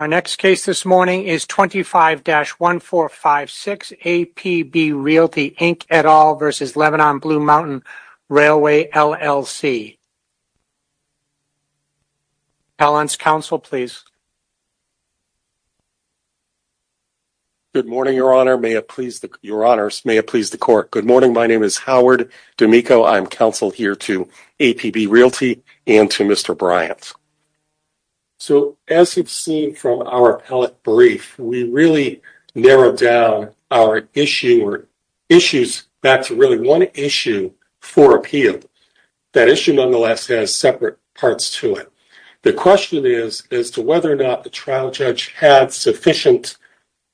Our next case this morning is 25-1456, APB Realty, Inc. et al. v. Lebanon and Blue Mountain Railway, LLC. Your Honor, may it please the Court. Good morning. My name is Howard D'Amico. I am counsel here to APB Realty and to Mr. Bryant. So, as you've seen from our appellate brief, we really narrowed down our issue or issues back to really one issue for appeal. That issue, nonetheless, has separate parts to it. The question is as to whether or not the trial judge had sufficient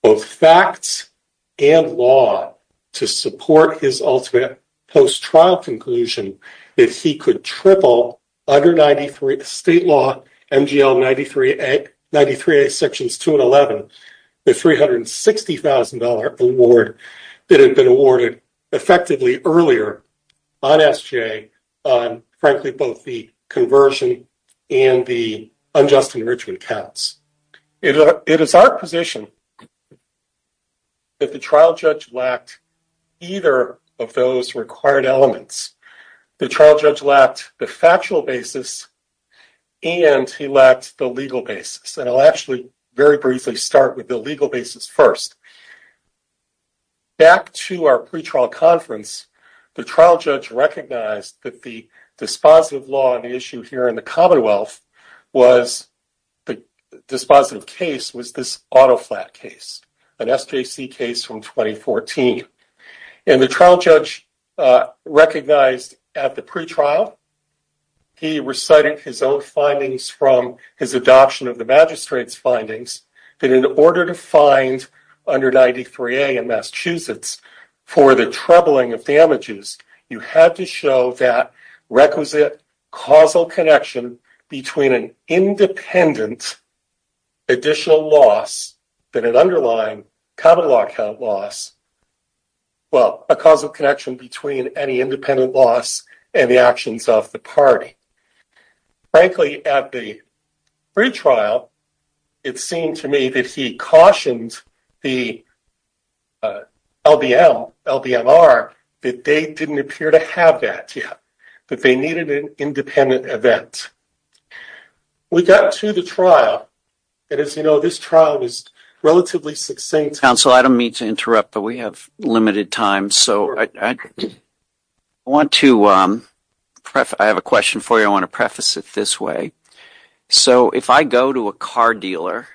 of facts and law to support his ultimate post-trial conclusion that he could triple under State Law MGL 93A Sections 2 and 11, the $360,000 award that had been awarded effectively earlier on SGA on, frankly, both the conversion and the unjust enrichment counts. It is our position that the trial judge lacked either of those required elements. The trial judge lacked the factual basis and he lacked the legal basis. And I'll actually very briefly start with the legal basis first. Back to our pretrial conference, the trial judge recognized that the dispositive law issue here in the Commonwealth was the dispositive case was this auto flat case, an SJC case from 2014. And the trial judge recognized at the pretrial he recited his own findings from his adoption of the magistrate's findings that in order to find under 93A in Massachusetts for the troubling of damages, you had to show that requisite causal connection between an independent additional loss than an underlying common law count loss, well, a causal connection between any independent loss and the actions of the party. Frankly, at the pretrial, it seemed to me that he cautioned the LBM, LBMR, that they didn't appear to have that yet, that they needed an independent event. We got to the trial, and as you know, this trial was relatively succinct. Counsel, I don't mean to interrupt, but we have limited time. So I have a question for you. I want to preface it this way. So if I go to a car dealer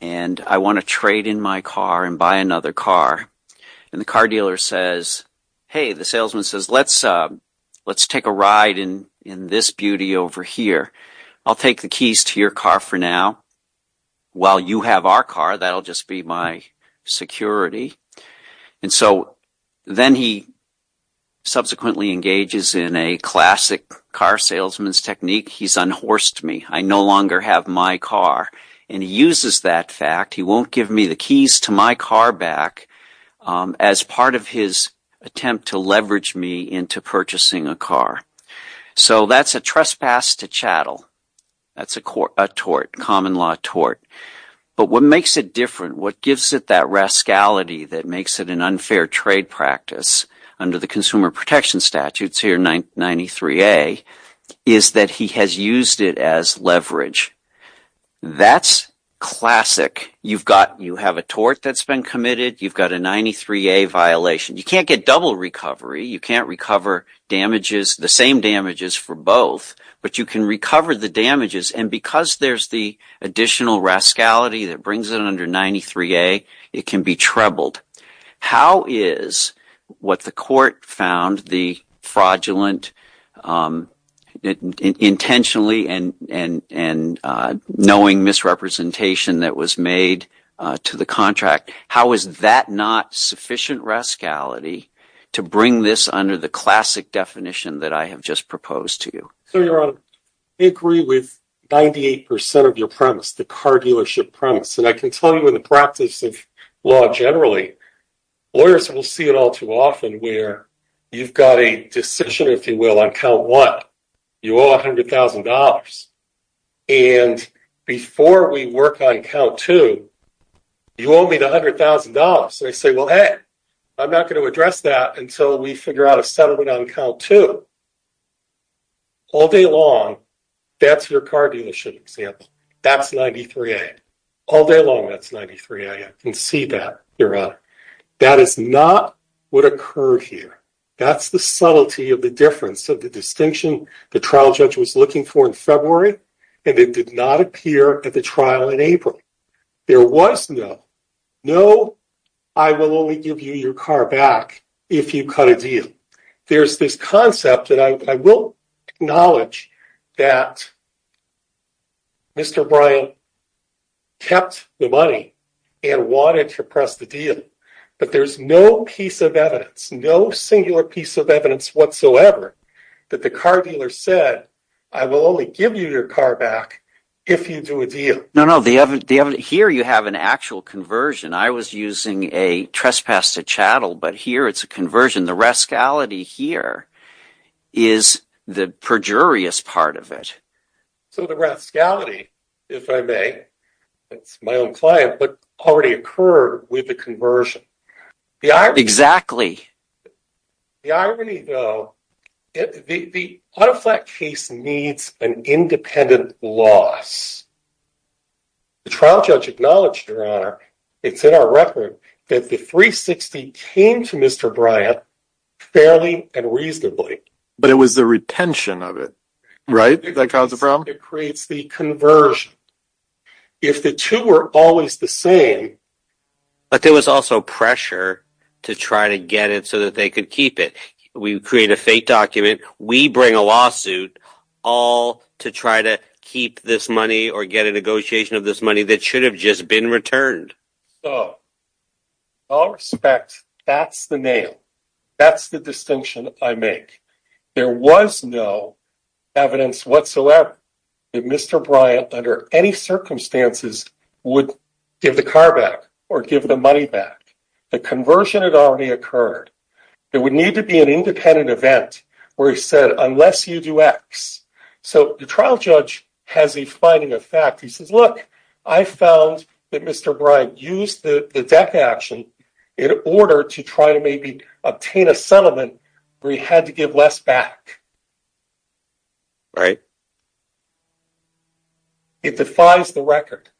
and I want to trade in my car and buy another car, and the car dealer says, hey, the salesman says, let's take a ride in this beauty over here. I'll take the keys to your car for now. While you have our car, that'll just be my security. And so then he subsequently engages in a classic car salesman's technique. He's unhorsed me. I no longer have my car. And he uses that fact. He won't give me the keys to my car back as part of his attempt to leverage me into purchasing a car. So that's a trespass to chattel. That's a tort, common law tort. But what makes it different, what gives it that rascality that makes it an unfair trade practice under the Consumer Protection Statutes here, 93A, is that he has used it as leverage. That's classic. You have a tort that's been committed. You've got a 93A violation. You can't get double recovery. You can't recover damages, the same damages for both. But you can recover the damages. And because there's the additional rascality that brings it under 93A, it can be trebled. How is what the court found the fraudulent intentionally and knowing misrepresentation that was made to the contract, how is that not sufficient rascality to bring this under the classic definition that I have just proposed to you? So, Your Honor, I agree with 98% of your premise, the car dealership premise. And I can tell you in the practice of law generally, lawyers will see it all too often where you've got a decision, if you will, on count one. You owe $100,000. And before we work on count two, you owe me $100,000. And they say, well, hey, I'm not going to address that until we figure out a settlement on count two. All day long, that's your car dealership example. That's 93A. All day long, that's 93A. I can see that, Your Honor. That is not what occurred here. That's the subtlety of the difference of the distinction the trial judge was looking for in February, and it did not appear at the trial in April. There was no, no, I will only give you your car back if you cut a deal. There's this concept that I will acknowledge that Mr. Bryant kept the money and wanted to press the deal. But there's no piece of evidence, no singular piece of evidence whatsoever that the car dealer said, I will only give you your car back if you do a deal. No, no, here you have an actual conversion. I was using a trespass to chattel, but here it's a conversion. The rascality here is the perjurious part of it. So the rascality, if I may, it's my own client, but already occurred with the conversion. Exactly. The irony, though, the auto flat case needs an independent loss. The trial judge acknowledged, Your Honor, it's in our record that the 360 came to Mr. Bryant fairly and reasonably. But it was the retention of it, right, that caused the problem? It creates the conversion. If the two were always the same. But there was also pressure to try to get it so that they could keep it. We create a fake document. We bring a lawsuit all to try to keep this money or get a negotiation of this money that should have just been returned. So, in all respect, that's the nail. That's the distinction I make. There was no evidence whatsoever that Mr. Bryant, under any circumstances, would give the car back or give the money back. The conversion had already occurred. There would need to be an independent event where he said, Unless you do X. So the trial judge has a finding of fact. He says, Look, I found that Mr. Bryant used the deck action in order to try to maybe obtain a settlement. We had to give less back. Right. It defies the record.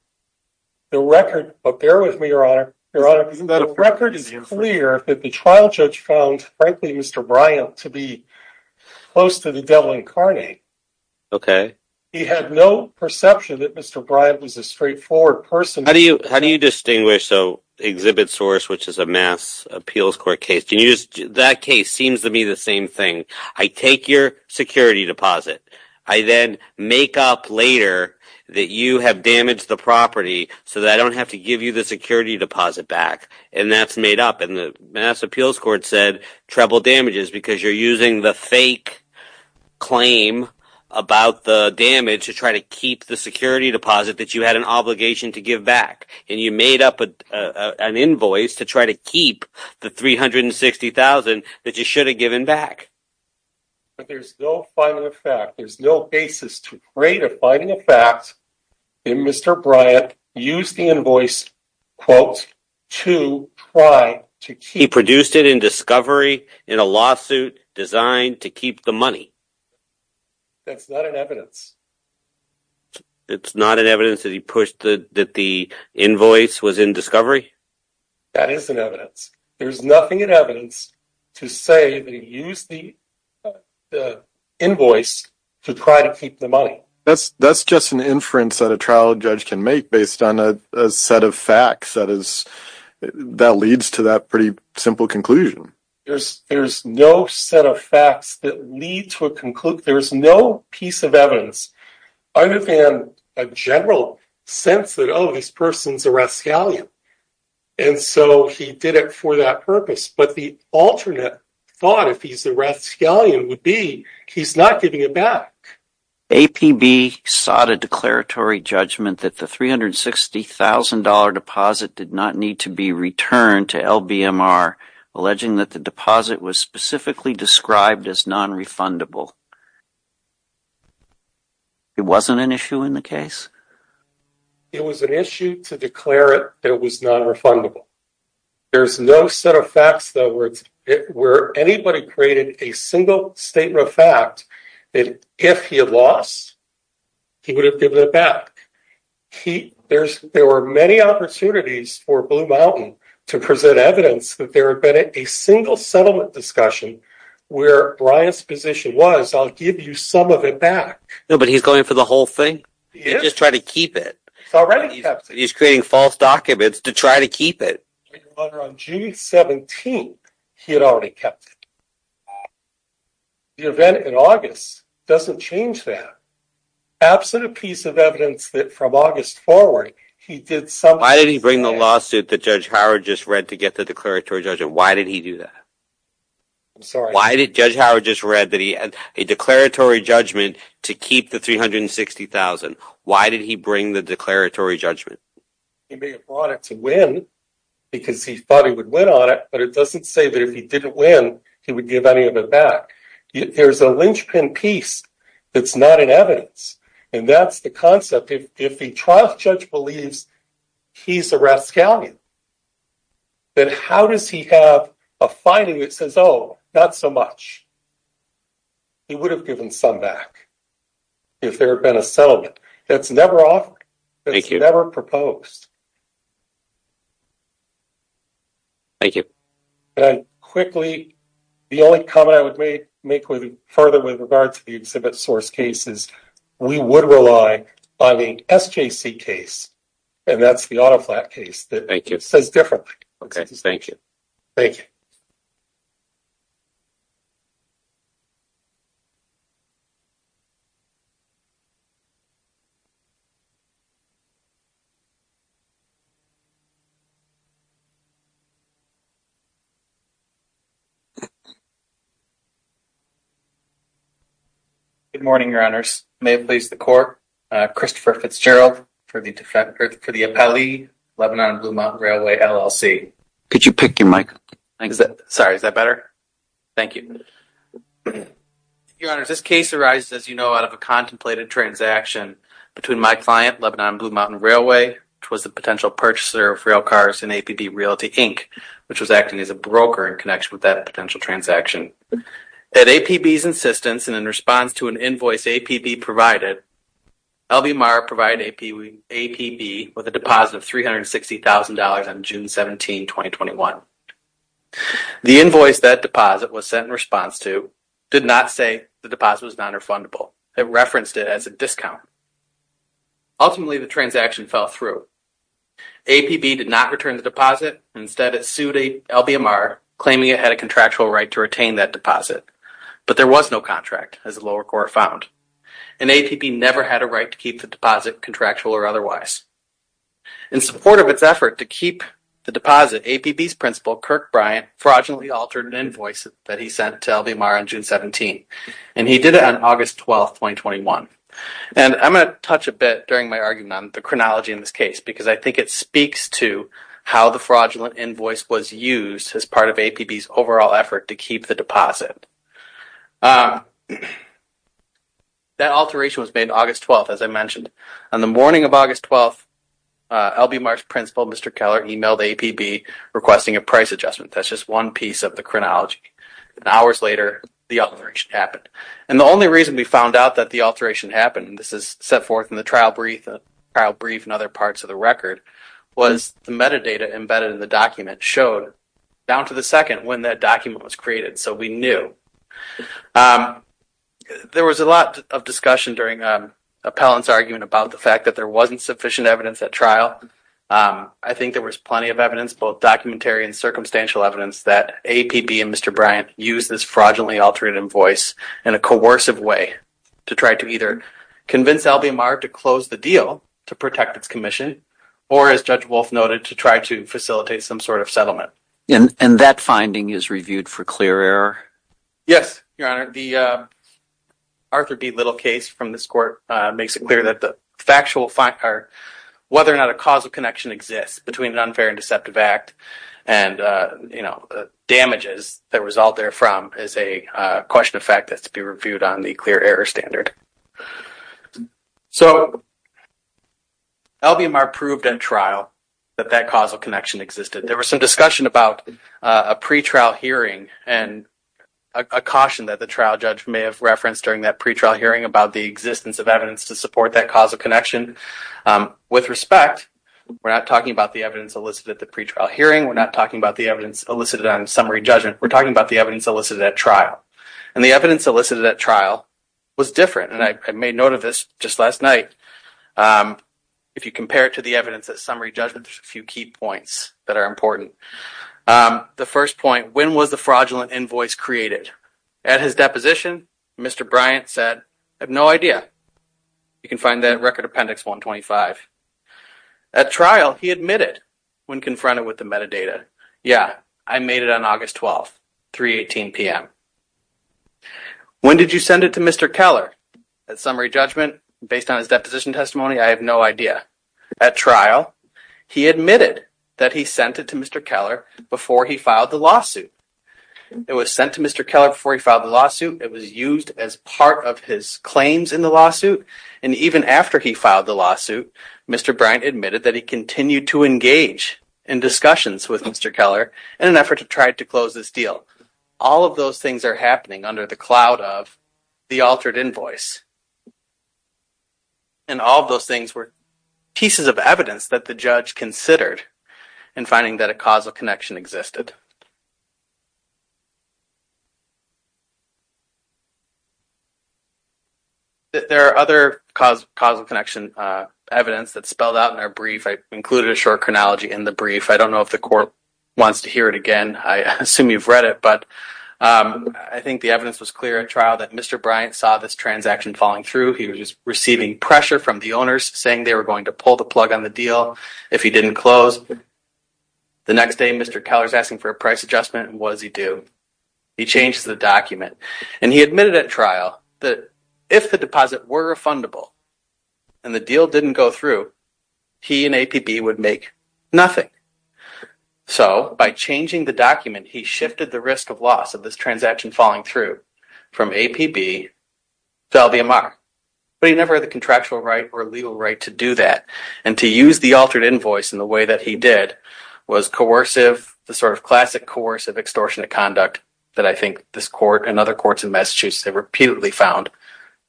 The record. But bear with me, Your Honor. Your record is clear that the trial judge found, frankly, Mr. Bryant to be close to the devil incarnate. Okay. He had no perception that Mr. Bryant was a straightforward person. How do you distinguish? So Exhibit Source, which is a mass appeals court case, that case seems to be the same thing. I take your security deposit. I then make up later that you have damaged the property so that I don't have to give you the security deposit back. And that's made up. And the mass appeals court said treble damages because you're using the fake claim about the damage to try to keep the security deposit that you had an obligation to give back. And you made up an invoice to try to keep the 360,000 that you should have given back. But there's no finding of fact. There's no basis to create a finding of fact that Mr. Bryant used the invoice, quote, to try to keep. He produced it in discovery in a lawsuit designed to keep the money. That's not an evidence. It's not an evidence that he pushed that the invoice was in discovery? That is an evidence. There's nothing in evidence to say that he used the invoice to try to keep the money. That's just an inference that a trial judge can make based on a set of facts that leads to that pretty simple conclusion. There's no set of facts that lead to a conclusion. There's no piece of evidence other than a general sense that, oh, this person's a Rascalian. And so he did it for that purpose. But the alternate thought, if he's a Rascalian, would be he's not giving it back. APB sought a declaratory judgment that the $360,000 deposit did not need to be returned to LBMR, alleging that the deposit was specifically described as nonrefundable. It wasn't an issue in the case? It was an issue to declare it that it was nonrefundable. There's no set of facts, though, where anybody created a single statement of fact that if he had lost, he would have given it back. There were many opportunities for Blue Mountain to present evidence that there had been a single settlement discussion where Brian's position was, I'll give you some of it back. No, but he's going for the whole thing? He didn't just try to keep it. He's already kept it. He's creating false documents to try to keep it. On June 17th, he had already kept it. The event in August doesn't change that. Absent a piece of evidence that from August forward, he did something else. Why did he bring the lawsuit that Judge Howard just read to get the declaratory judgment? Why did he do that? I'm sorry? Why did Judge Howard just read a declaratory judgment to keep the $360,000? Why did he bring the declaratory judgment? He may have brought it to win because he thought he would win on it, but it doesn't say that if he didn't win, he would give any of it back. There's a linchpin piece that's not in evidence, and that's the concept. If the trial judge believes he's a Raskalian, then how does he have a finding that says, oh, not so much? He would have given some back if there had been a settlement. That's never offered. Thank you. That's never proposed. Thank you. Quickly, the only comment I would make further with regard to the exhibit source case is we would rely on the SJC case, and that's the auto flat case. Thank you. It says differently. Thank you. Thank you. Good morning, Your Honors. May it please the Court, Christopher Fitzgerald for the appellee, Lebanon and Blue Mountain Railway, LLC. Could you pick your mic? Sorry, is that better? Thank you. Thank you, Your Honors. This case arises, as you know, out of a contemplated transaction between my client, Lebanon and Blue Mountain Railway, which was a potential purchaser of rail cars in APB Realty, Inc., which was acting as a broker in connection with that potential transaction. At APB's insistence and in response to an invoice APB provided, L.B. Marr provided APB with a deposit of $360,000 on June 17, 2021. The invoice that deposit was sent in response to did not say the deposit was nonrefundable. It referenced it as a discount. Ultimately, the transaction fell through. APB did not return the deposit. Instead, it sued L.B. Marr, claiming it had a contractual right to retain that deposit. But there was no contract, as the lower court found, and APB never had a right to keep the deposit contractual or otherwise. In support of its effort to keep the deposit, APB's principal, Kirk Bryant, fraudulently altered an invoice that he sent to L.B. Marr on June 17. And he did it on August 12, 2021. And I'm going to touch a bit during my argument on the chronology in this case, because I think it speaks to how the fraudulent invoice was used as part of APB's overall effort to keep the deposit. That alteration was made on August 12, as I mentioned. On the morning of August 12, L.B. Marr's principal, Mr. Keller, emailed APB requesting a price adjustment. That's just one piece of the chronology. And hours later, the alteration happened. And the only reason we found out that the alteration happened, and this is set forth in the trial brief and other parts of the record, was the metadata embedded in the document showed down to the second when that document was created. So we knew. There was a lot of discussion during Appellant's argument about the fact that there wasn't sufficient evidence at trial. I think there was plenty of evidence, both documentary and circumstantial evidence, that APB and Mr. Bryant used this fraudulently altered invoice in a coercive way to try to either convince L.B. Marr to close the deal to protect its commission or, as Judge Wolf noted, to try to facilitate some sort of settlement. And that finding is reviewed for clear error? Yes, Your Honor. The Arthur B. Little case from this court makes it clear that the factual fact or whether or not a causal connection exists between an unfair and deceptive act and, you know, damages that result therefrom is a question of fact that's to be reviewed on the clear error standard. So L.B. Marr proved in trial that that causal connection existed. There was some discussion about a pretrial hearing and a caution that the trial judge may have referenced during that pretrial hearing about the existence of evidence to support that causal connection. With respect, we're not talking about the evidence elicited at the pretrial hearing. We're not talking about the evidence elicited on summary judgment. We're talking about the evidence elicited at trial. And the evidence elicited at trial was different, and I made note of this just last night. If you compare it to the evidence at summary judgment, there's a few key points that are important. The first point, when was the fraudulent invoice created? At his deposition, Mr. Bryant said, I have no idea. You can find that in Record Appendix 125. At trial, he admitted when confronted with the metadata. Yeah, I made it on August 12th, 3.18 p.m. When did you send it to Mr. Keller? At summary judgment, based on his deposition testimony, I have no idea. At trial, he admitted that he sent it to Mr. Keller before he filed the lawsuit. It was sent to Mr. Keller before he filed the lawsuit. It was used as part of his claims in the lawsuit. And even after he filed the lawsuit, Mr. Bryant admitted that he continued to engage in discussions with Mr. Keller in an effort to try to close this deal. So all of those things are happening under the cloud of the altered invoice. And all of those things were pieces of evidence that the judge considered in finding that a causal connection existed. There are other causal connection evidence that's spelled out in our brief. I included a short chronology in the brief. I don't know if the court wants to hear it again. I assume you've read it, but I think the evidence was clear at trial that Mr. Bryant saw this transaction falling through. He was receiving pressure from the owners, saying they were going to pull the plug on the deal if he didn't close. The next day, Mr. Keller is asking for a price adjustment, and what does he do? He changes the document. And he admitted at trial that if the deposit were refundable and the deal didn't go through, he and APB would make nothing. So by changing the document, he shifted the risk of loss of this transaction falling through from APB to LVMR. But he never had the contractual right or legal right to do that. And to use the altered invoice in the way that he did was coercive, the sort of classic coercive extortionate conduct that I think this court and other courts in Massachusetts have repeatedly found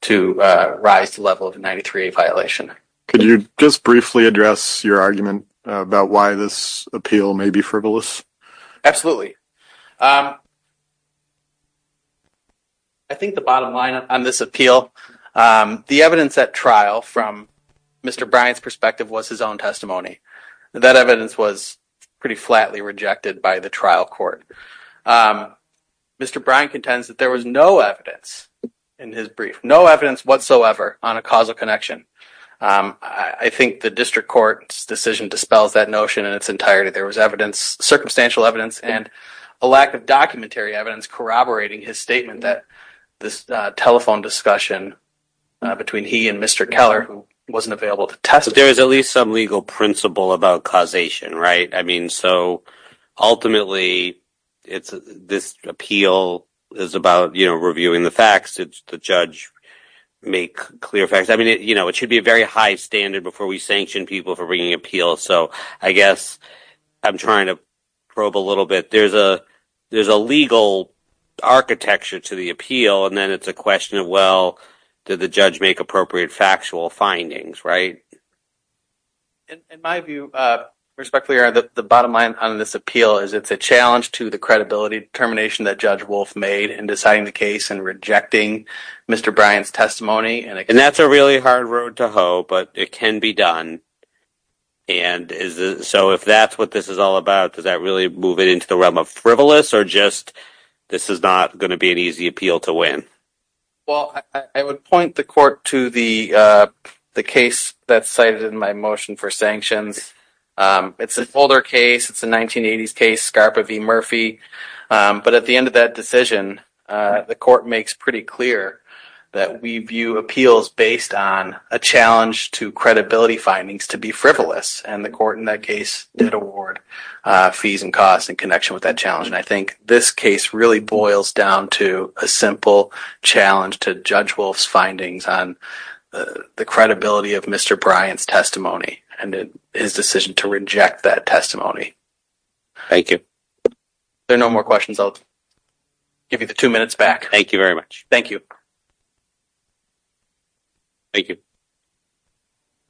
to rise to the level of a 93A violation. Could you just briefly address your argument about why this appeal may be frivolous? Absolutely. I think the bottom line on this appeal, the evidence at trial from Mr. Bryant's perspective was his own testimony. That evidence was pretty flatly rejected by the trial court. Mr. Bryant contends that there was no evidence in his brief, no evidence whatsoever on a causal connection. I think the district court's decision dispels that notion in its entirety. There was evidence, circumstantial evidence, and a lack of documentary evidence corroborating his statement that this telephone discussion between he and Mr. Keller wasn't available to testify. There is at least some legal principle about causation, right? I mean, so ultimately, this appeal is about reviewing the facts. It's the judge make clear facts. I mean, it should be a very high standard before we sanction people for bringing appeals. So I guess I'm trying to probe a little bit. There's a legal architecture to the appeal, and then it's a question of, well, did the judge make appropriate factual findings, right? In my view, respectfully, the bottom line on this appeal is it's a challenge to the credibility determination that Judge Wolf made in deciding the case and rejecting Mr. Bryant's testimony. And that's a really hard road to hoe, but it can be done. And so if that's what this is all about, does that really move it into the realm of frivolous or just this is not going to be an easy appeal to win? Well, I would point the court to the case that's cited in my motion for sanctions. It's an older case. It's a 1980s case, Scarpa v. Murphy. But at the end of that decision, the court makes pretty clear that we view appeals based on a challenge to credibility findings to be frivolous. And the court in that case did award fees and costs in connection with that challenge. And I think this case really boils down to a simple challenge to Judge Wolf's findings on the credibility of Mr. Bryant's testimony and his decision to reject that testimony. Thank you. If there are no more questions, I'll give you the two minutes back. Thank you very much. Thank you. Thank you.